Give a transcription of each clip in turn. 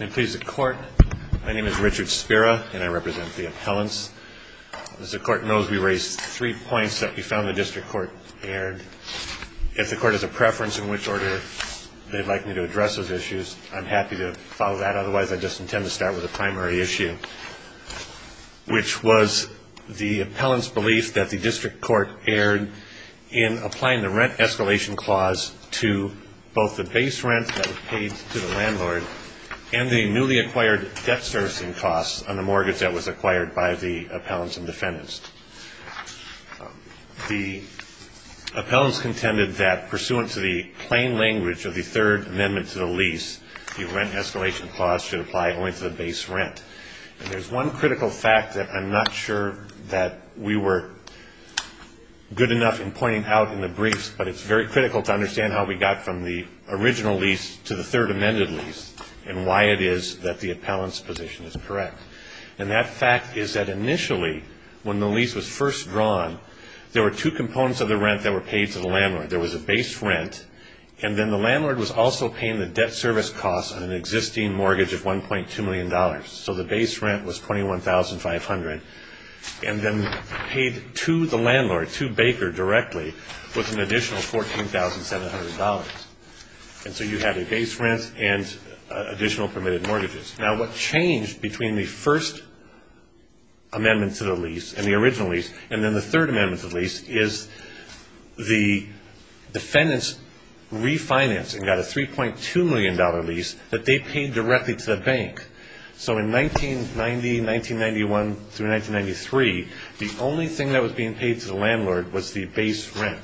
I'm pleased to court. My name is Richard Spira, and I represent the appellants. As the court knows, we raised three points that we found the district court erred. If the court has a preference in which order they'd like me to address those issues, I'm happy to follow that. Otherwise, I just intend to start with the primary issue, which was the appellant's belief that the district court erred in applying the rent escalation clause to both the base rent that was paid to the landlord and the newly acquired debt servicing costs on the mortgage that was acquired by the appellants and defendants. The appellants contended that, pursuant to the plain language of the Third Amendment to the lease, the rent escalation clause should apply only to the base rent. And there's one critical fact that I'm not sure that we were good enough in pointing out in the briefs, but it's very critical to understand how we got from the original lease to the Third Amendment lease and why it is that the appellant's position is correct. And that fact is that initially, when the lease was first drawn, there were two components of the rent that were paid to the landlord. There was a base rent, and then the landlord was also paying the debt service costs on an existing mortgage of $1.2 million. So the base rent was $21,500, and then paid to the landlord, to Baker directly, with an additional $14,700. And so you have a base rent and additional permitted mortgages. Now, what changed between the First Amendment to the lease and the original lease, and then the Third Amendment to the lease, is the defendants refinanced and got a $3.2 million lease that they paid directly to the bank. So in 1990, 1991 through 1993, the only thing that was being paid to the landlord was the base rent.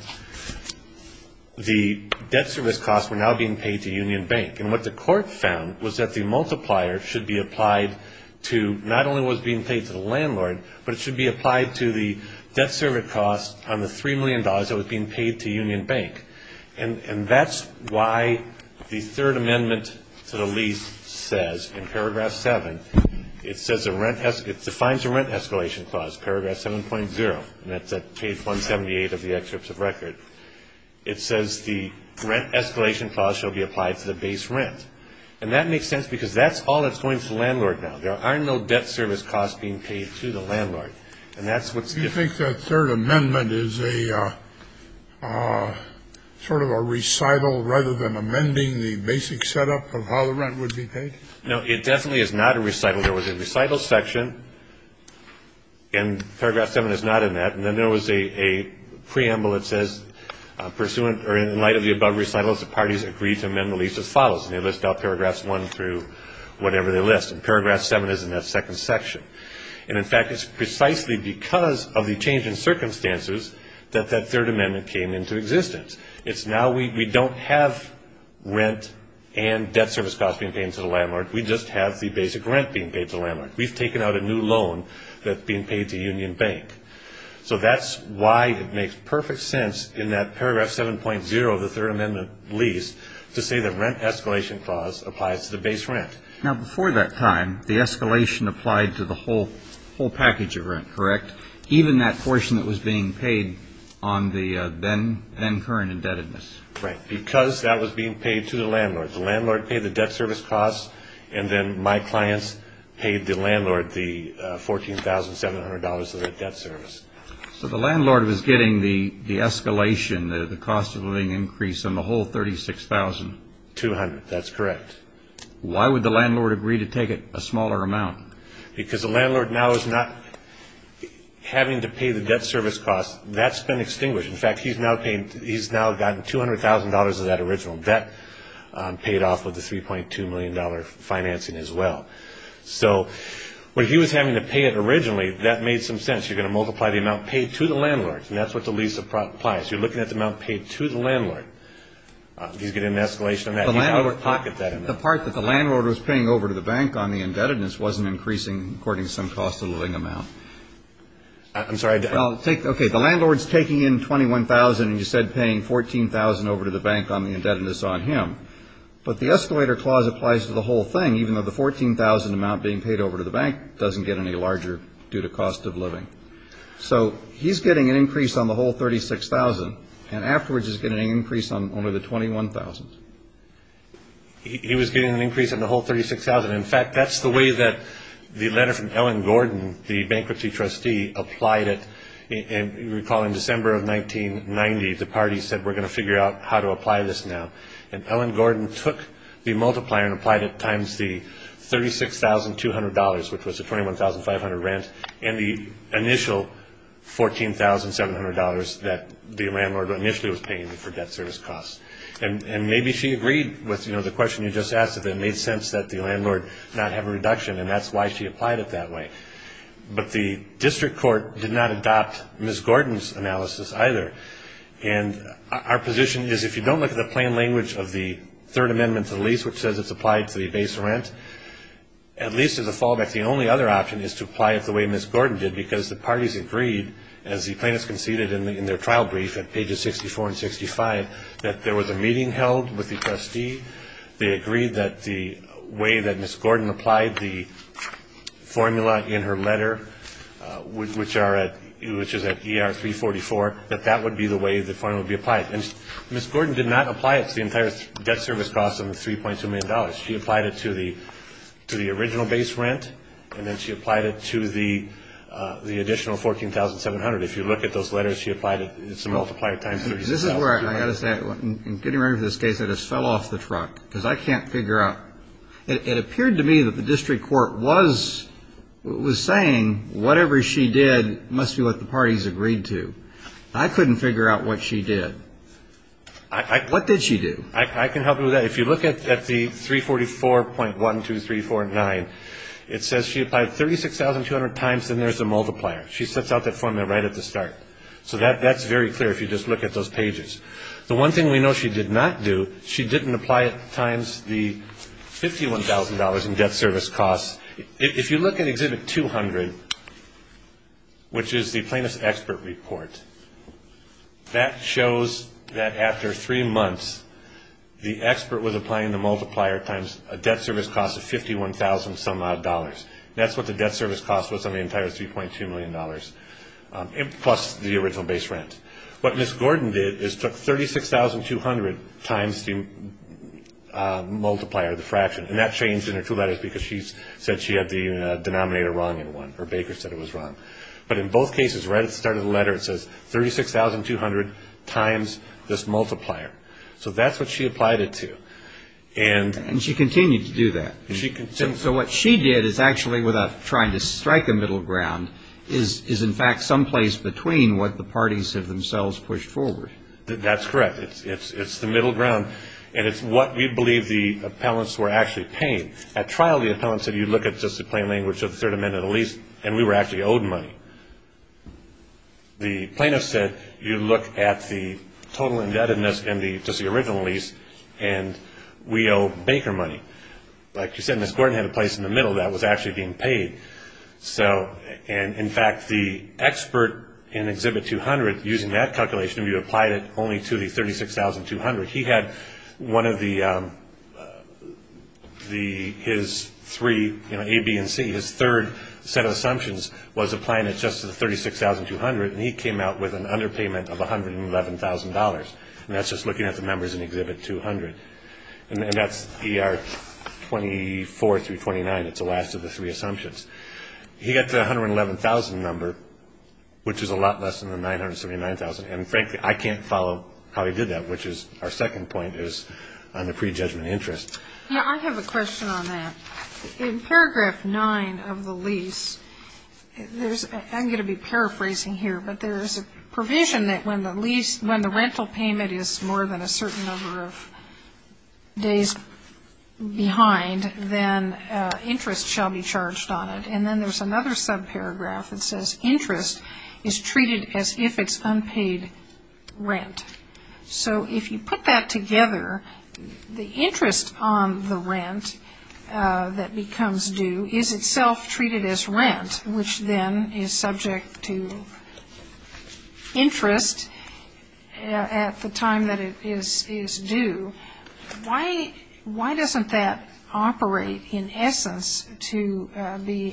The debt service costs were now being paid to Union Bank. And what the court found was that the multiplier should be applied to not only what was being paid to the landlord, but it should be applied to the debt service costs on the $3 million that was being paid to Union Bank. And that's why the Third Amendment to the lease says in Paragraph 7, it defines a rent escalation clause, Paragraph 7.0, and that's at page 178 of the excerpts of record. It says the rent escalation clause shall be applied to the base rent. And that makes sense because that's all that's going to the landlord now. There are no debt service costs being paid to the landlord, and that's what's different. Do you think that Third Amendment is a sort of a recital rather than amending the basic setup of how the rent would be paid? No, it definitely is not a recital. There was a recital section, and Paragraph 7 is not in that. And then there was a preamble that says, in light of the above recitals, the parties agreed to amend the lease as follows. And they list out Paragraphs 1 through whatever they list, and Paragraph 7 is in that second section. And, in fact, it's precisely because of the change in circumstances that that Third Amendment came into existence. It's now we don't have rent and debt service costs being paid to the landlord. We just have the basic rent being paid to the landlord. We've taken out a new loan that's being paid to Union Bank. So that's why it makes perfect sense in that Paragraph 7.0 of the Third Amendment lease to say the rent escalation clause applies to the base rent. Now, before that time, the escalation applied to the whole package of rent, correct, even that portion that was being paid on the then current indebtedness? Right, because that was being paid to the landlord. The landlord paid the debt service costs, and then my clients paid the landlord the $14,700 of that debt service. So the landlord was getting the escalation, the cost of living increase on the whole 36,000? Two hundred, that's correct. Why would the landlord agree to take a smaller amount? Because the landlord now is not having to pay the debt service costs. That's been extinguished. In fact, he's now gotten $200,000 of that original debt paid off with the $3.2 million financing as well. So when he was having to pay it originally, that made some sense. You're going to multiply the amount paid to the landlord, and that's what the lease applies. You're looking at the amount paid to the landlord. He's getting an escalation on that. The part that the landlord was paying over to the bank on the indebtedness wasn't increasing according to some cost of living amount. I'm sorry. Okay, the landlord's taking in $21,000, and you said paying $14,000 over to the bank on the indebtedness on him. But the escalator clause applies to the whole thing, even though the $14,000 amount being paid over to the bank doesn't get any larger due to cost of living. So he's getting an increase on the whole $36,000, and afterwards he's getting an increase on only the $21,000. He was getting an increase on the whole $36,000. In fact, that's the way that the letter from Ellen Gordon, the bankruptcy trustee, applied it. And recall in December of 1990, the party said we're going to figure out how to apply this now. And Ellen Gordon took the multiplier and applied it times the $36,200, which was the $21,500 rent, and the initial $14,700 that the landlord initially was paying for debt service costs. And maybe she agreed with the question you just asked that it made sense that the landlord not have a reduction, and that's why she applied it that way. But the district court did not adopt Ms. Gordon's analysis either. And our position is if you don't look at the plain language of the Third Amendment to the lease, which says it's applied to the base rent, at least as a fallback, the only other option is to apply it the way Ms. Gordon did, because the parties agreed, as the plaintiffs conceded in their trial brief at pages 64 and 65, that there was a meeting held with the trustee. They agreed that the way that Ms. Gordon applied the formula in her letter, which is at ER 344, that that would be the way the formula would be applied. And Ms. Gordon did not apply it to the entire debt service costs of the $3.2 million. She applied it to the original base rent, and then she applied it to the additional $14,700. If you look at those letters, she applied it as a multiplier times $36,200. I've got to say, in getting ready for this case, I just fell off the truck, because I can't figure out. It appeared to me that the district court was saying whatever she did must be what the parties agreed to. I couldn't figure out what she did. What did she do? I can help you with that. If you look at the 344.12349, it says she applied $36,200 times, and there's a multiplier. She sets out that formula right at the start. So that's very clear if you just look at those pages. The one thing we know she did not do, she didn't apply it times the $51,000 in debt service costs. If you look at Exhibit 200, which is the plaintiff's expert report, that shows that after three months, the expert was applying the multiplier times a debt service cost of $51,000-some-odd. That's what the debt service cost was on the entire $3.2 million, plus the original base rent. What Ms. Gordon did is took 36,200 times the multiplier, the fraction, and that changed in her two letters, because she said she had the denominator wrong in one. Her baker said it was wrong. But in both cases, right at the start of the letter, it says 36,200 times this multiplier. So that's what she applied it to. And she continued to do that. And so what she did is actually, without trying to strike a middle ground, is in fact someplace between what the parties have themselves pushed forward. That's correct. It's the middle ground, and it's what we believe the appellants were actually paying. At trial, the appellant said, you look at just the plain language of the third amendment of the lease, and we were actually owed money. The plaintiff said, you look at the total indebtedness and just the original lease, and we owe baker money. Like you said, Ms. Gordon had a place in the middle that was actually being paid. And in fact, the expert in Exhibit 200, using that calculation, we applied it only to the 36,200. His three, A, B, and C, his third set of assumptions was applying it just to the 36,200, and he came out with an underpayment of $111,000. And that's just looking at the numbers in Exhibit 200. And that's ER 24 through 29. It's the last of the three assumptions. He got the $111,000 number, which is a lot less than the $979,000. And frankly, I can't follow how he did that, which is our second point is on the prejudgment of interest. Yeah, I have a question on that. In Paragraph 9 of the lease, I'm going to be paraphrasing here, but there is a provision that when the lease, when the rental payment is more than a certain number of days behind, then interest shall be charged on it. And then there's another subparagraph that says interest is treated as if it's unpaid rent. So if you put that together, the interest on the rent that becomes due is itself treated as rent, which then is subject to interest at the time that it is due. Why doesn't that operate in essence to be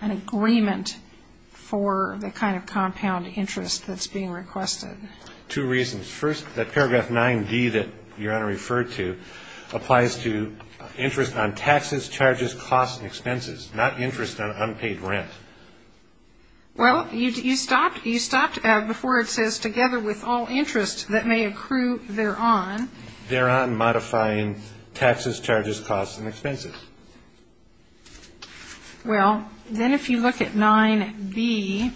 an agreement for the kind of compound interest that's being requested? Two reasons. First, that Paragraph 9d that Your Honor referred to applies to interest on taxes, charges, costs and expenses, not interest on unpaid rent. Well, you stopped before it says together with all interest that may accrue thereon. Thereon modifying taxes, charges, costs and expenses. Well, then if you look at 9b,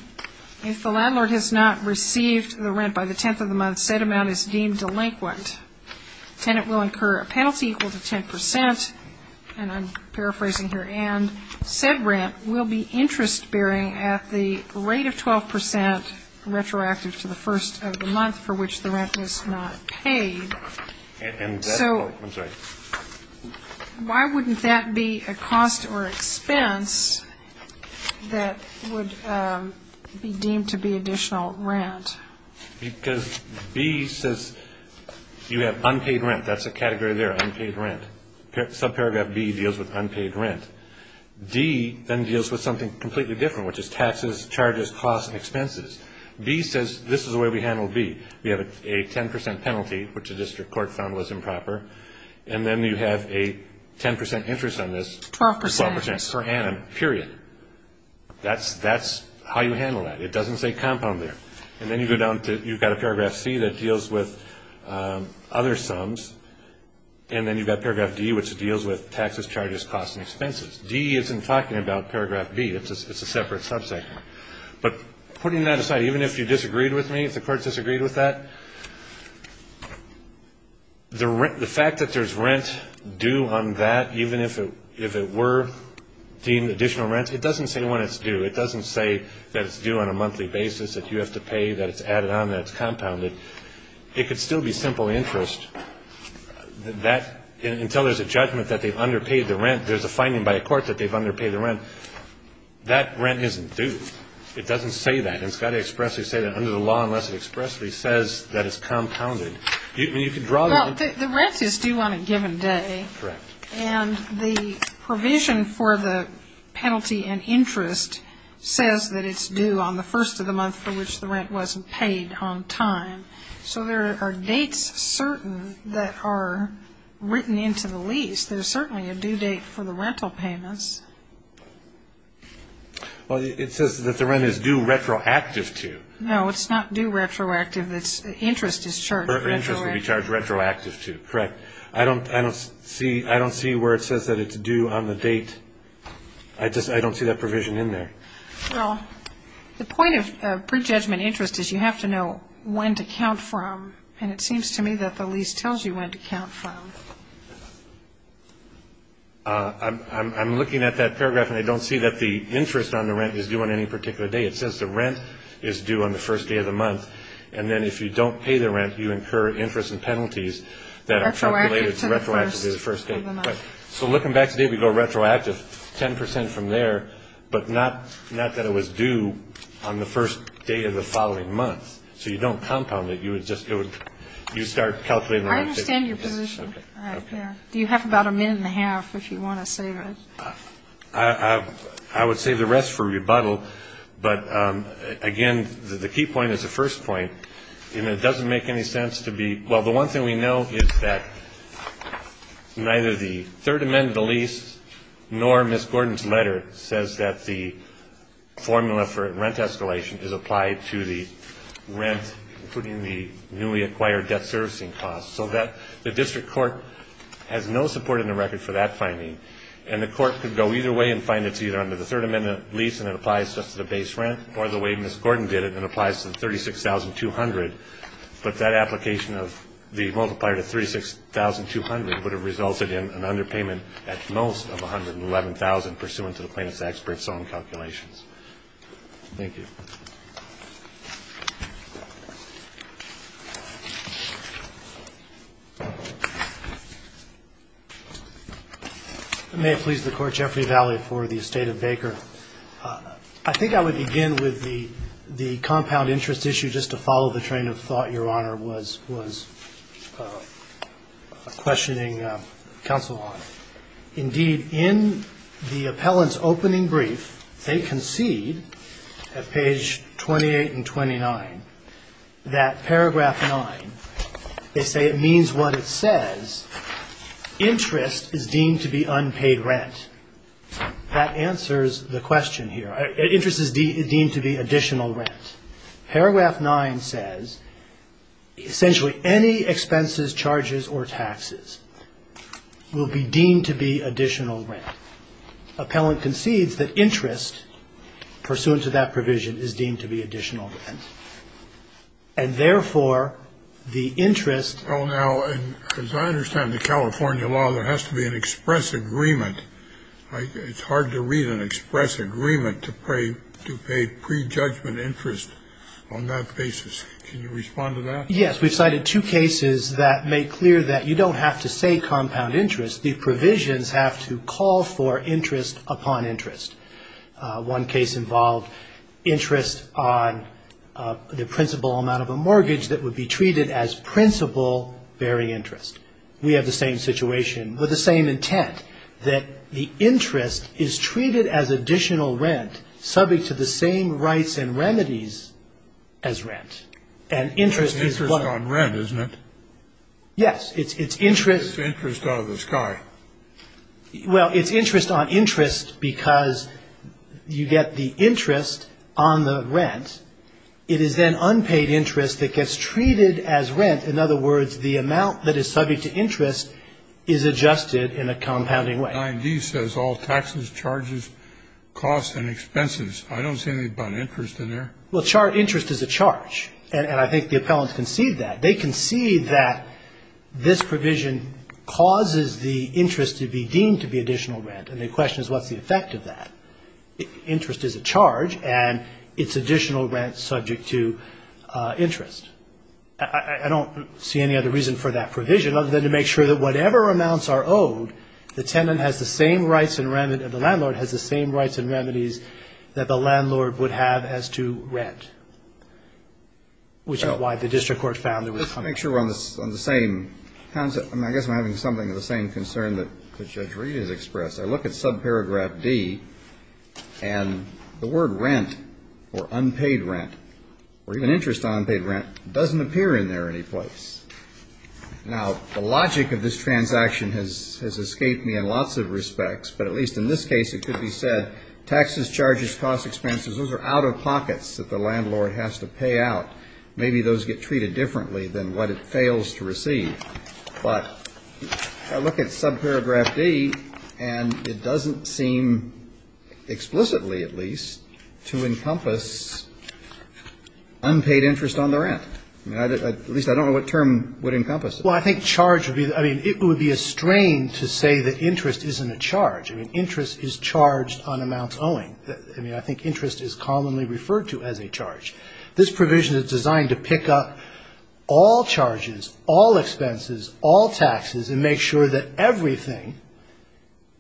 if the landlord has not received the rent by the tenth of the month, said amount is deemed delinquent. Tenant will incur a penalty equal to 10 percent, and I'm paraphrasing here, and said rent will be interest bearing at the rate of 12 percent retroactive to the first of the month for which the rent is not paid. So why wouldn't that be a cost or expense that would be deemed to be additional rent? Because B says you have unpaid rent. That's a category there, unpaid rent. Subparagraph B deals with unpaid rent. D then deals with something completely different, which is taxes, charges, costs and expenses. B says this is the way we handle B. We have a 10 percent penalty, which the district court found was improper, and then you have a 10 percent interest on this. Twelve percent. Twelve percent per annum, period. That's how you handle that. It doesn't say compound there. And then you go down to you've got a paragraph C that deals with other sums, and then you've got paragraph D, which deals with taxes, charges, costs and expenses. D isn't talking about paragraph B. It's a separate subset. But putting that aside, even if you disagreed with me, if the court disagreed with that, the fact that there's rent due on that, even if it were deemed additional rent, it doesn't say when it's due. It doesn't say that it's due on a monthly basis, that you have to pay, that it's added on, that it's compounded. It could still be simple interest. Until there's a judgment that they've underpaid the rent, there's a finding by a court that they've underpaid the rent. But that rent isn't due. It doesn't say that. It's got to expressly say that under the law unless it expressly says that it's compounded. I mean, you can draw that. Well, the rent is due on a given day. Correct. And the provision for the penalty and interest says that it's due on the first of the month for which the rent wasn't paid on time. So there are dates certain that are written into the lease. There's certainly a due date for the rental payments. Well, it says that the rent is due retroactive to. No, it's not due retroactive. Interest is charged retroactive. Interest will be charged retroactive to. Correct. I don't see where it says that it's due on the date. I just don't see that provision in there. Well, the point of prejudgment interest is you have to know when to count from, and it seems to me that the lease tells you when to count from. I'm looking at that paragraph, and I don't see that the interest on the rent is due on any particular day. It says the rent is due on the first day of the month, and then if you don't pay the rent, you incur interest and penalties that are calculated retroactive to the first day of the month. So looking back today, we go retroactive 10 percent from there, but not that it was due on the first day of the following month. So you don't compound it. You would just go. You start calculating. I understand your position right there. Do you have about a minute and a half if you want to save it? I would save the rest for rebuttal. But, again, the key point is the first point, and it doesn't make any sense to be... Well, the one thing we know is that neither the third amendment of the lease nor Ms. Gordon's letter says that the formula for rent escalation is applied to the rent, including the newly acquired debt servicing costs. So the district court has no support in the record for that finding, and the court could go either way and find it's either under the third amendment lease and it applies just to the base rent, or the way Ms. Gordon did it, it applies to the $36,200. But that application of the multiplier to $36,200 would have resulted in an underpayment at most of $111,000 pursuant to the plaintiff's expert's own calculations. Thank you. May it please the Court, Jeffrey Valley for the estate of Baker. I think I would begin with the compound interest issue just to follow the train of thought, Your Honor, was questioning counsel on. Indeed, in the appellant's opening brief, they concede at page 28 and 29 that paragraph 9, they say it means what it says, interest is deemed to be unpaid rent. That answers the question here. Interest is deemed to be additional rent. Paragraph 9 says essentially any expenses, charges, or taxes will be deemed to be additional rent. Appellant concedes that interest pursuant to that provision is deemed to be additional rent. And therefore, the interest. Well, now, as I understand the California law, there has to be an express agreement. It's hard to read an express agreement to pay prejudgment interest on that basis. Can you respond to that? Yes. We've cited two cases that make clear that you don't have to say compound interest. The provisions have to call for interest upon interest. One case involved interest on the principal amount of a mortgage that would be treated as principal bearing interest. We have the same situation with the same intent, that the interest is treated as additional rent subject to the same rights and remedies as rent. And interest is what? It's interest on rent, isn't it? Yes. It's interest. It's interest out of the sky. Well, it's interest on interest because you get the interest on the rent. It is then unpaid interest that gets treated as rent. In other words, the amount that is subject to interest is adjusted in a compounding way. 9D says all taxes, charges, costs, and expenses. I don't see anything about interest in there. Well, interest is a charge, and I think the appellants concede that. They concede that this provision causes the interest to be deemed to be additional rent, and the question is what's the effect of that. Interest is a charge, and it's additional rent subject to interest. I don't see any other reason for that provision, other than to make sure that whatever amounts are owed, the tenant has the same rights and remedies, the landlord has the same rights and remedies that the landlord would have as to rent, which is why the district court found there was a compounding. Let's make sure we're on the same concept. I guess I'm having something of the same concern that Judge Reed has expressed. I look at subparagraph D, and the word rent or unpaid rent or even interest on unpaid rent doesn't appear in there any place. Now, the logic of this transaction has escaped me in lots of respects, but at least in this case it could be said taxes, charges, costs, expenses, those are out-of-pockets that the landlord has to pay out. Maybe those get treated differently than what it fails to receive. But I look at subparagraph D, and it doesn't seem explicitly, at least, to encompass unpaid interest on the rent. At least I don't know what term would encompass it. Well, I think charge would be the other. It would be a strain to say that interest isn't a charge. I mean, interest is charged on amounts owing. This provision is designed to pick up all charges, all expenses, all taxes, and make sure that everything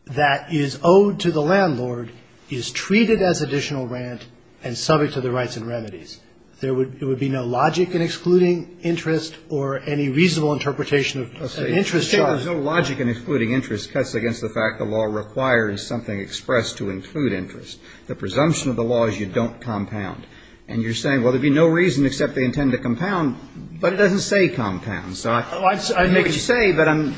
that is owed to the landlord is treated as additional rent and subject to the rights and remedies. There would be no logic in excluding interest or any reasonable interpretation of an interest charge. No logic in excluding interest cuts against the fact the law requires something expressed to include interest. The presumption of the law is you don't compound. And you're saying, well, there would be no reason except they intend to compound, but it doesn't say compound. So I'd make it say, but I'm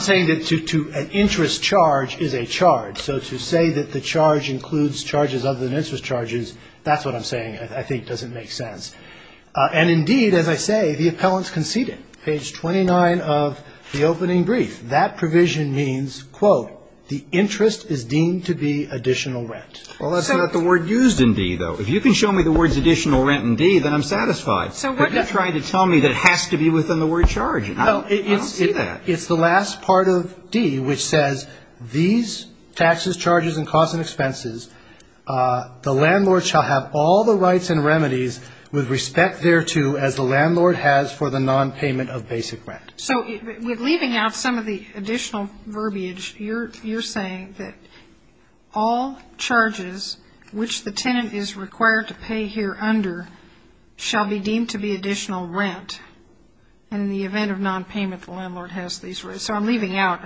saying that an interest charge is a charge. So to say that the charge includes charges other than interest charges, that's what I'm saying I think doesn't make sense. And, indeed, as I say, the appellant's conceded. Page 29 of the opening brief. That provision means, quote, the interest is deemed to be additional rent. Well, that's not the word used in D, though. If you can show me the words additional rent in D, then I'm satisfied. But you're trying to tell me that it has to be within the word charge. I don't see that. It's the last part of D which says these taxes, charges, and costs and expenses, the landlord shall have all the rights and remedies with respect thereto as the landlord has for the nonpayment of basic rent. So with leaving out some of the additional verbiage, you're saying that all charges which the tenant is required to pay here under shall be deemed to be additional rent. And in the event of nonpayment, the landlord has these rights. So I'm leaving out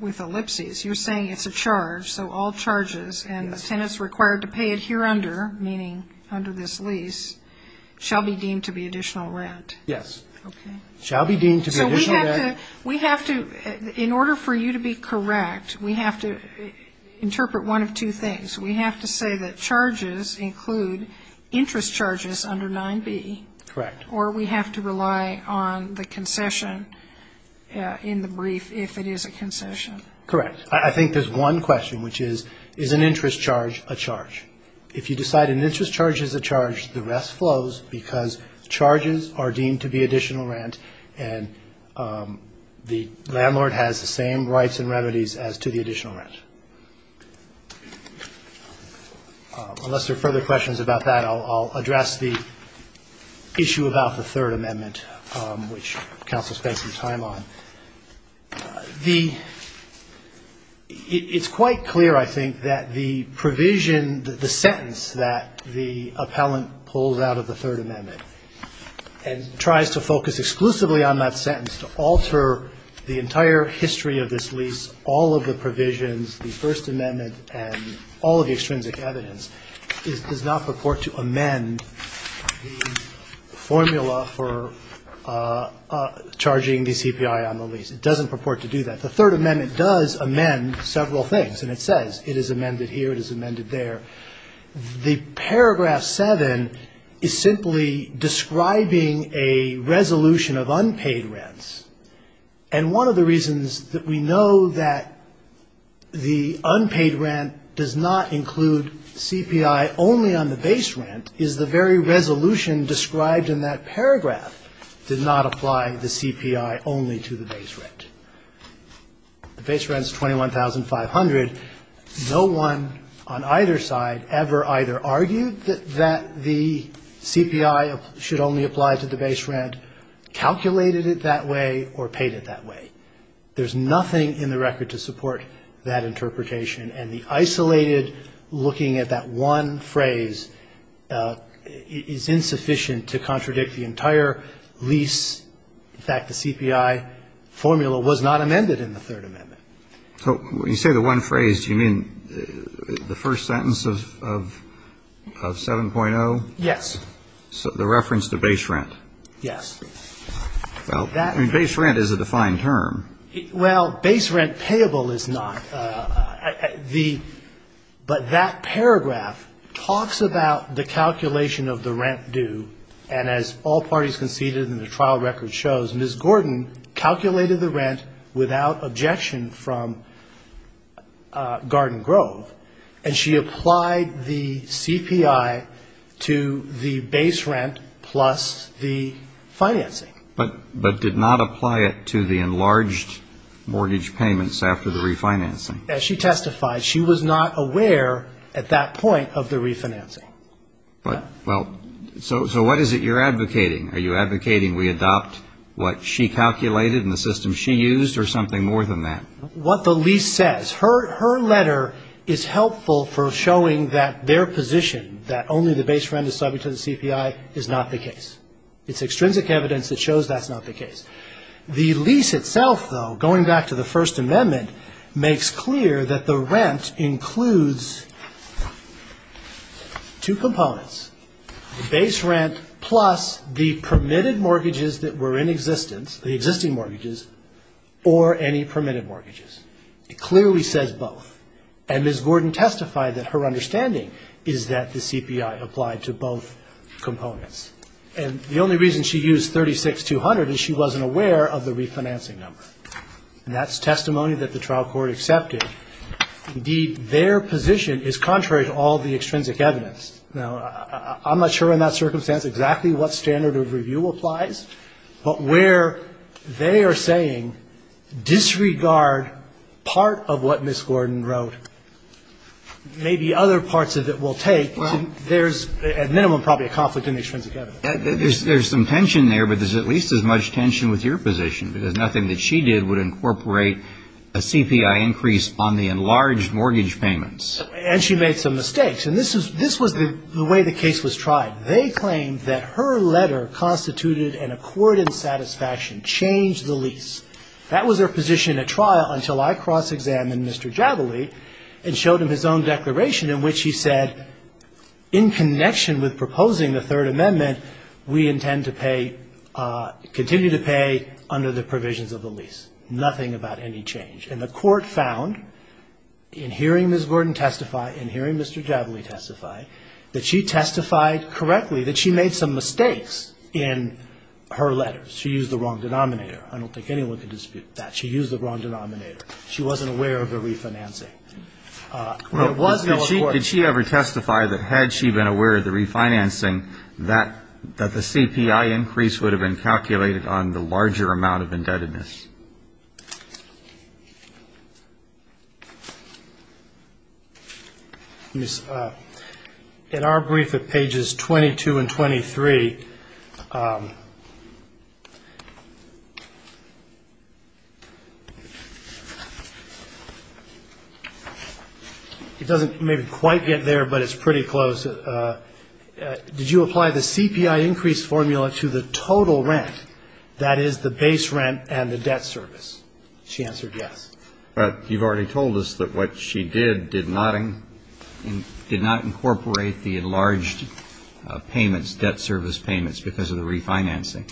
with ellipses. You're saying it's a charge, so all charges, and the tenant's required to pay it here under, meaning under this lease, shall be deemed to be additional rent. Yes. Okay. I'll be deemed to be additional rent. So we have to, in order for you to be correct, we have to interpret one of two things. We have to say that charges include interest charges under 9B. Correct. Or we have to rely on the concession in the brief if it is a concession. Correct. I think there's one question, which is, is an interest charge a charge? If you decide an interest charge is a charge, the rest flows because charges are deemed to be additional rent and the landlord has the same rights and remedies as to the additional rent. Unless there are further questions about that, I'll address the issue about the Third Amendment, which counsel spent some time on. It's quite clear, I think, that the provision, the sentence that the appellant pulls out of the Third Amendment and tries to focus exclusively on that sentence to alter the entire history of this lease, all of the provisions, the First Amendment, and all of the extrinsic evidence, does not purport to amend the formula for charging the CPI on the lease. It doesn't purport to do that. The Third Amendment does amend several things, and it says it is amended here, it is amended there. The paragraph 7 is simply describing a resolution of unpaid rents, and one of the reasons that we know that the unpaid rent does not include CPI only on the base rent is the very resolution described in that paragraph did not apply the CPI only to the base rent. The base rent is $21,500. No one on either side ever either argued that the CPI should only apply to the base rent, calculated it that way, or paid it that way. There's nothing in the record to support that interpretation, and the isolated looking at that one phrase is insufficient to contradict the entire lease. In fact, the CPI formula was not amended in the Third Amendment. So when you say the one phrase, do you mean the first sentence of 7.0? Yes. The reference to base rent. Yes. Well, base rent is a defined term. Well, base rent payable is not. But that paragraph talks about the calculation of the rent due, and as all parties conceded in the trial record shows, Ms. Gordon calculated the rent without objection from Garden Grove, and she applied the CPI to the base rent plus the financing. But did not apply it to the enlarged mortgage payments after the refinancing. As she testified, she was not aware at that point of the refinancing. Well, so what is it you're advocating? Are you advocating we adopt what she calculated and the system she used or something more than that? What the lease says. Her letter is helpful for showing that their position, that only the base rent is subject to the CPI, is not the case. It's extrinsic evidence that shows that's not the case. The lease itself, though, going back to the First Amendment, makes clear that the rent includes two components, the base rent plus the permitted mortgages that were in existence, the existing mortgages, or any permitted mortgages. It clearly says both. And Ms. Gordon testified that her understanding is that the CPI applied to both components. And the only reason she used 36200 is she wasn't aware of the refinancing number. And that's testimony that the trial court accepted. Indeed, their position is contrary to all the extrinsic evidence. Now, I'm not sure in that circumstance exactly what standard of review applies, but where they are saying disregard part of what Ms. Gordon wrote, maybe other parts of it will take, there's at minimum probably a conflict in the extrinsic evidence. There's some tension there, but there's at least as much tension with your position because nothing that she did would incorporate a CPI increase on the enlarged mortgage payments. And she made some mistakes. And this was the way the case was tried. They claimed that her letter constituted an accorded satisfaction, changed the lease. That was her position at trial until I cross-examined Mr. Javile and showed him his own declaration in which he said, in connection with proposing the Third Amendment, we intend to pay, continue to pay under the provisions of the lease. Nothing about any change. And the court found, in hearing Ms. Gordon testify, in hearing Mr. Javile testify, that she testified correctly that she made some mistakes in her letters. She used the wrong denominator. I don't think anyone can dispute that. She used the wrong denominator. She wasn't aware of the refinancing. There was no accord. Did she ever testify that had she been aware of the refinancing, that the CPI increase would have been calculated on the larger amount of indebtedness? Let me see. In our brief at pages 22 and 23, it doesn't maybe quite get there, but it's pretty close. Did you apply the CPI increase formula to the total rent, that is the base rent and the debt service? She answered yes. But you've already told us that what she did, did not incorporate the enlarged payments, debt service payments, because of the refinancing.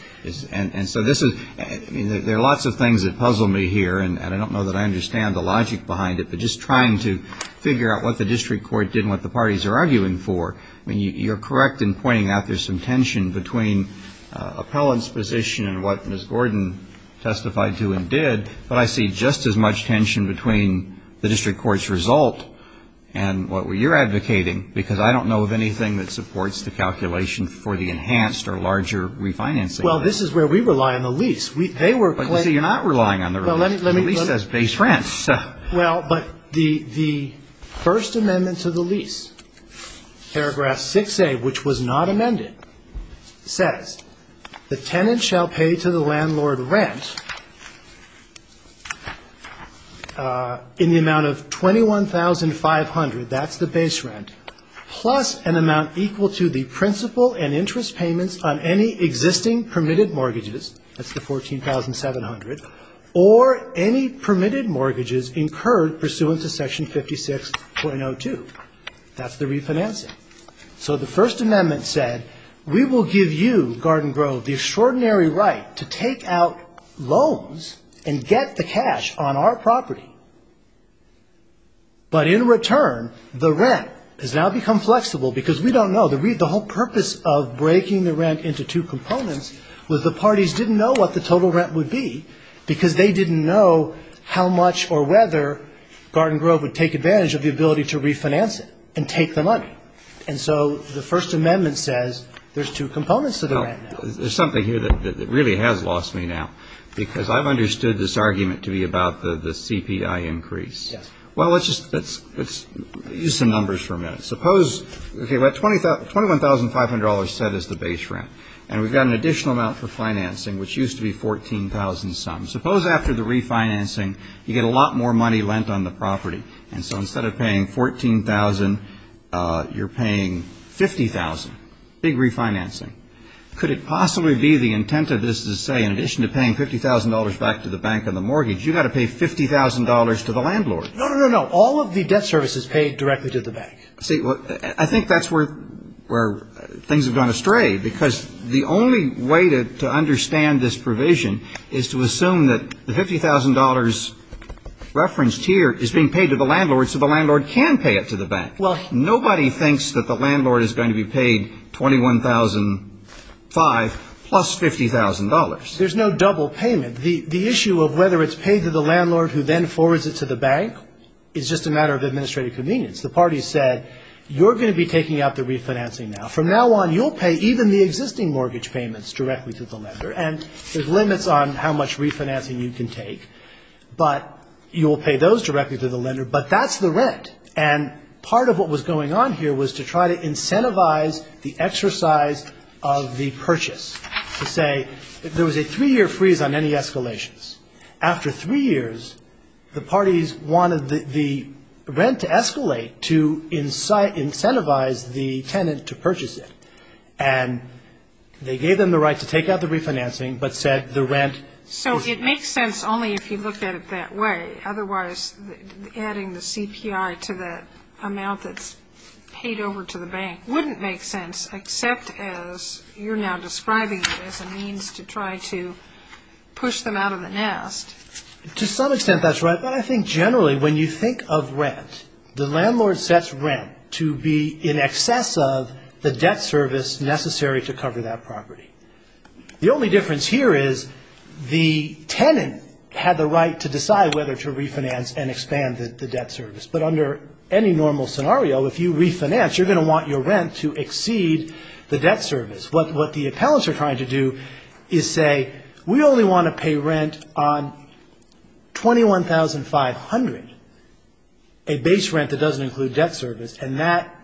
And so this is, I mean, there are lots of things that puzzle me here, and I don't know that I understand the logic behind it, but just trying to figure out what the district court did and what the parties are arguing for. I mean, you're correct in pointing out there's some tension between the appellant's position and what Ms. Gordon testified to and did, but I see just as much tension between the district court's result and what you're advocating, because I don't know of anything that supports the calculation for the enhanced or larger refinancing. Well, this is where we rely on the lease. You see, you're not relying on the refinancing. The lease says base rent. Well, but the first amendment to the lease, paragraph 6A, which was not amended, says, the tenant shall pay to the landlord rent in the amount of $21,500, that's the base rent, plus an amount equal to the principal and interest payments on any existing permitted mortgages, that's the $14,700, or any permitted mortgages incurred pursuant to section 56.02. That's the refinancing. So the first amendment said we will give you, Garden Grove, the extraordinary right to take out loans and get the cash on our property, but in return the rent has now become flexible because we don't know. The whole purpose of breaking the rent into two components was the parties didn't know what the total rent would be because they didn't know how much or whether Garden Grove would take advantage of the ability to refinance it and take the money. And so the first amendment says there's two components to the rent now. There's something here that really has lost me now, because I've understood this argument to be about the CPI increase. Yes. Well, let's just use some numbers for a minute. Suppose $21,500 said is the base rent, and we've got an additional amount for financing, which used to be $14,000 some. Suppose after the refinancing you get a lot more money lent on the property, and so instead of paying $14,000 you're paying $50,000, big refinancing. Could it possibly be the intent of this to say in addition to paying $50,000 back to the bank on the mortgage, you've got to pay $50,000 to the landlord? No, no, no, no. All of the debt service is paid directly to the bank. See, I think that's where things have gone astray, because the only way to understand this provision is to assume that the $50,000 referenced here is being paid to the landlord so the landlord can pay it to the bank. Nobody thinks that the landlord is going to be paid $21,500 plus $50,000. There's no double payment. The issue of whether it's paid to the landlord who then forwards it to the bank is just a matter of administrative convenience. The parties said you're going to be taking out the refinancing now. From now on you'll pay even the existing mortgage payments directly to the lender, and there's limits on how much refinancing you can take, but you'll pay those directly to the lender. But that's the rent, and part of what was going on here was to try to incentivize the exercise of the purchase, to say there was a three-year freeze on any escalations. After three years, the parties wanted the rent to escalate to incentivize the tenant to purchase it, and they gave them the right to take out the refinancing but said the rent was not. So it makes sense only if you look at it that way. Otherwise, adding the CPI to that amount that's paid over to the bank wouldn't make sense, except as you're now describing it as a means to try to push them out of the nest. To some extent that's right, but I think generally when you think of rent, the landlord sets rent to be in excess of the debt service necessary to cover that property. The only difference here is the tenant had the right to decide whether to refinance and expand the debt service, but under any normal scenario, if you refinance, you're going to want your rent to exceed the debt service. What the appellants are trying to do is say we only want to pay rent on 21,500, a base rent that doesn't include debt service, and that,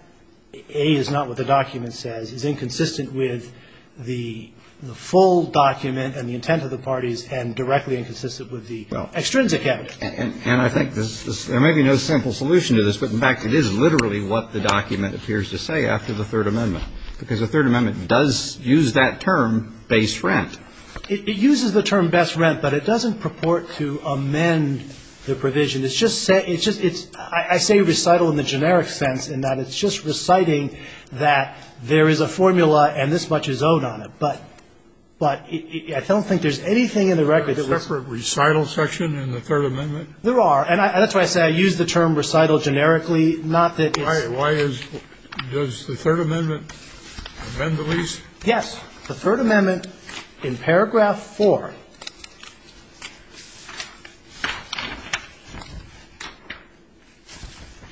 A, is not what the document says, is inconsistent with the full document and the intent of the parties and directly inconsistent with the extrinsic evidence. And I think there may be no simple solution to this, but, in fact, it is literally what the document appears to say after the Third Amendment, because the Third Amendment does use that term, base rent. It uses the term base rent, but it doesn't purport to amend the provision. It's just said – I say recital in the generic sense in that it's just reciting that there is a formula and this much is owed on it. But I don't think there's anything in the record that was – There are separate recital section in the Third Amendment? There are. And that's why I say I use the term recital generically, not that it's – Why is – does the Third Amendment amend the lease? Yes. The Third Amendment in paragraph 4 –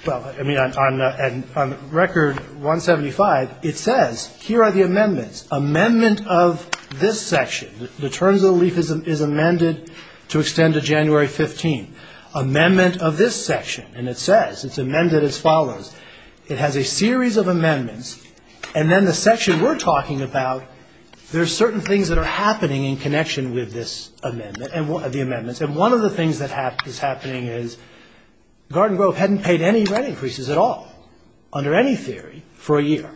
well, I mean, on record 175, it says, Amendment of this section. The terms of the lease is amended to extend to January 15. Amendment of this section. And it says – it's amended as follows. It has a series of amendments, and then the section we're talking about, there are certain things that are happening in connection with this amendment and the amendments. And one of the things that is happening is Garden Grove hadn't paid any rent increases at all under any theory for a year.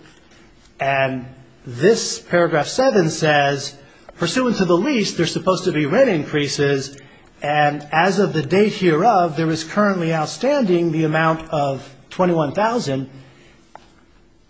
And this paragraph 7 says, pursuant to the lease, there's supposed to be rent increases, and as of the date hereof, there is currently outstanding the amount of $21,000,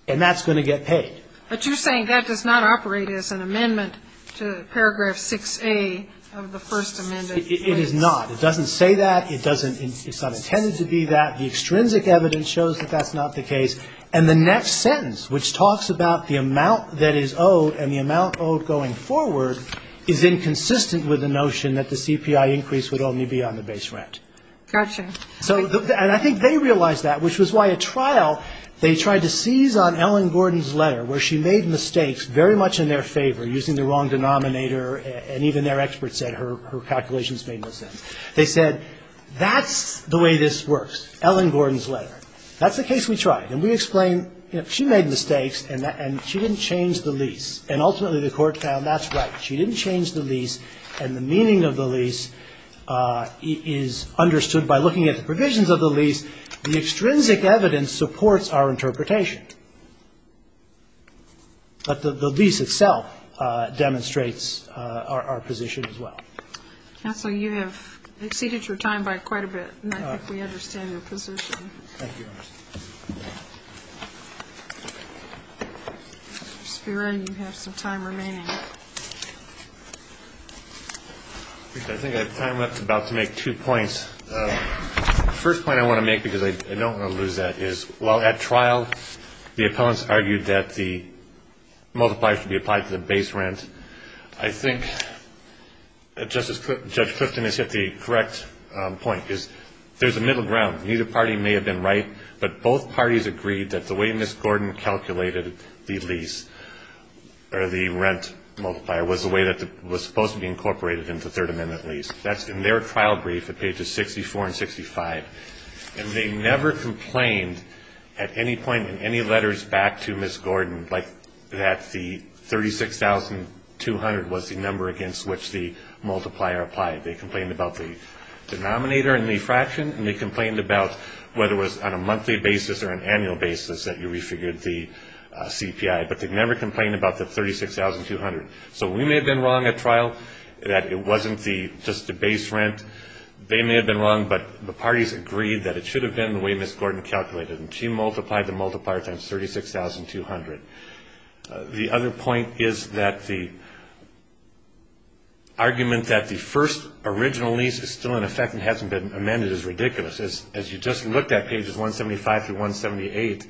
and that's going to get paid. But you're saying that does not operate as an amendment to paragraph 6A of the First Amendment? It is not. It doesn't say that. It doesn't – it's not intended to be that. The extrinsic evidence shows that that's not the case. And the next sentence, which talks about the amount that is owed and the amount owed going forward is inconsistent with the notion that the CPI increase would only be on the base rent. Gotcha. And I think they realized that, which was why a trial they tried to seize on Ellen Gordon's letter, where she made mistakes very much in their favor, using the wrong denominator, and even their experts said her calculations made no sense. They said, that's the way this works, Ellen Gordon's letter. That's the case we tried. And we explained, you know, she made mistakes, and she didn't change the lease. And ultimately the Court found that's right. She didn't change the lease, and the meaning of the lease is understood by looking at the provisions of the lease. The extrinsic evidence supports our interpretation. But the lease itself demonstrates our position as well. Counsel, you have exceeded your time by quite a bit, and I think we understand your position. Thank you, Your Honor. Mr. Spiro, you have some time remaining. I think I have time left to make two points. The first point I want to make, because I don't want to lose that, is while at trial the appellants argued that the multiplier should be applied to the base rent, I think that Judge Clifton has hit the correct point, is there's a middle ground. Neither party may have been right, but both parties agreed that the way Ms. Gordon calculated the lease or the rent multiplier was the way that it was supposed to be incorporated into the Third Amendment lease. That's in their trial brief at pages 64 and 65. And they never complained at any point in any letters back to Ms. Gordon that the 36,200 was the number against which the multiplier applied. They complained about the denominator and the fraction, and they complained about whether it was on a monthly basis or an annual basis that you refigured the CPI. But they never complained about the 36,200. So we may have been wrong at trial that it wasn't just the base rent. They may have been wrong, but the parties agreed that it should have been the way Ms. Gordon calculated it, and she multiplied the multiplier times 36,200. The other point is that the argument that the first original lease is still in effect and hasn't been amended is ridiculous. As you just looked at pages 175 through 178,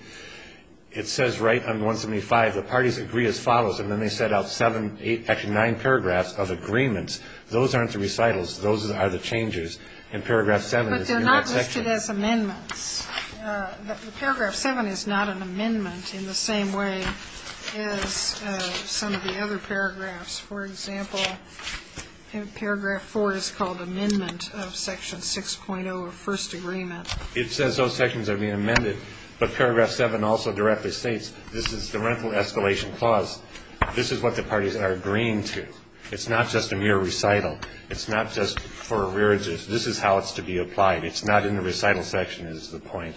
it says right under 175, the parties agree as follows, and then they set out seven, eight, actually nine paragraphs of agreements. Those aren't the recitals. Those are the changes. But they're not listed as amendments. Paragraph seven is not an amendment in the same way as some of the other paragraphs. For example, paragraph four is called amendment of section 6.0 of first agreement. It says those sections are being amended, but paragraph seven also directly states this is the rental escalation clause. This is what the parties are agreeing to. It's not just a mere recital. It's not just for a rearage. This is how it's to be applied. It's not in the recital section is the point.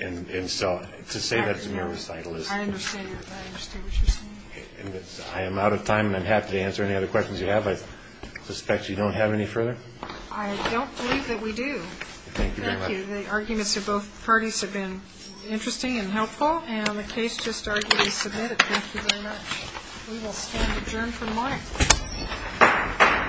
And so to say that it's a mere recital is. I understand what you're saying. I am out of time, and I'm happy to answer any other questions you have. I suspect you don't have any further. I don't believe that we do. Thank you very much. Thank you. The arguments of both parties have been interesting and helpful, and the case just arguably submitted. Thank you very much. We will stand adjourned for the morning.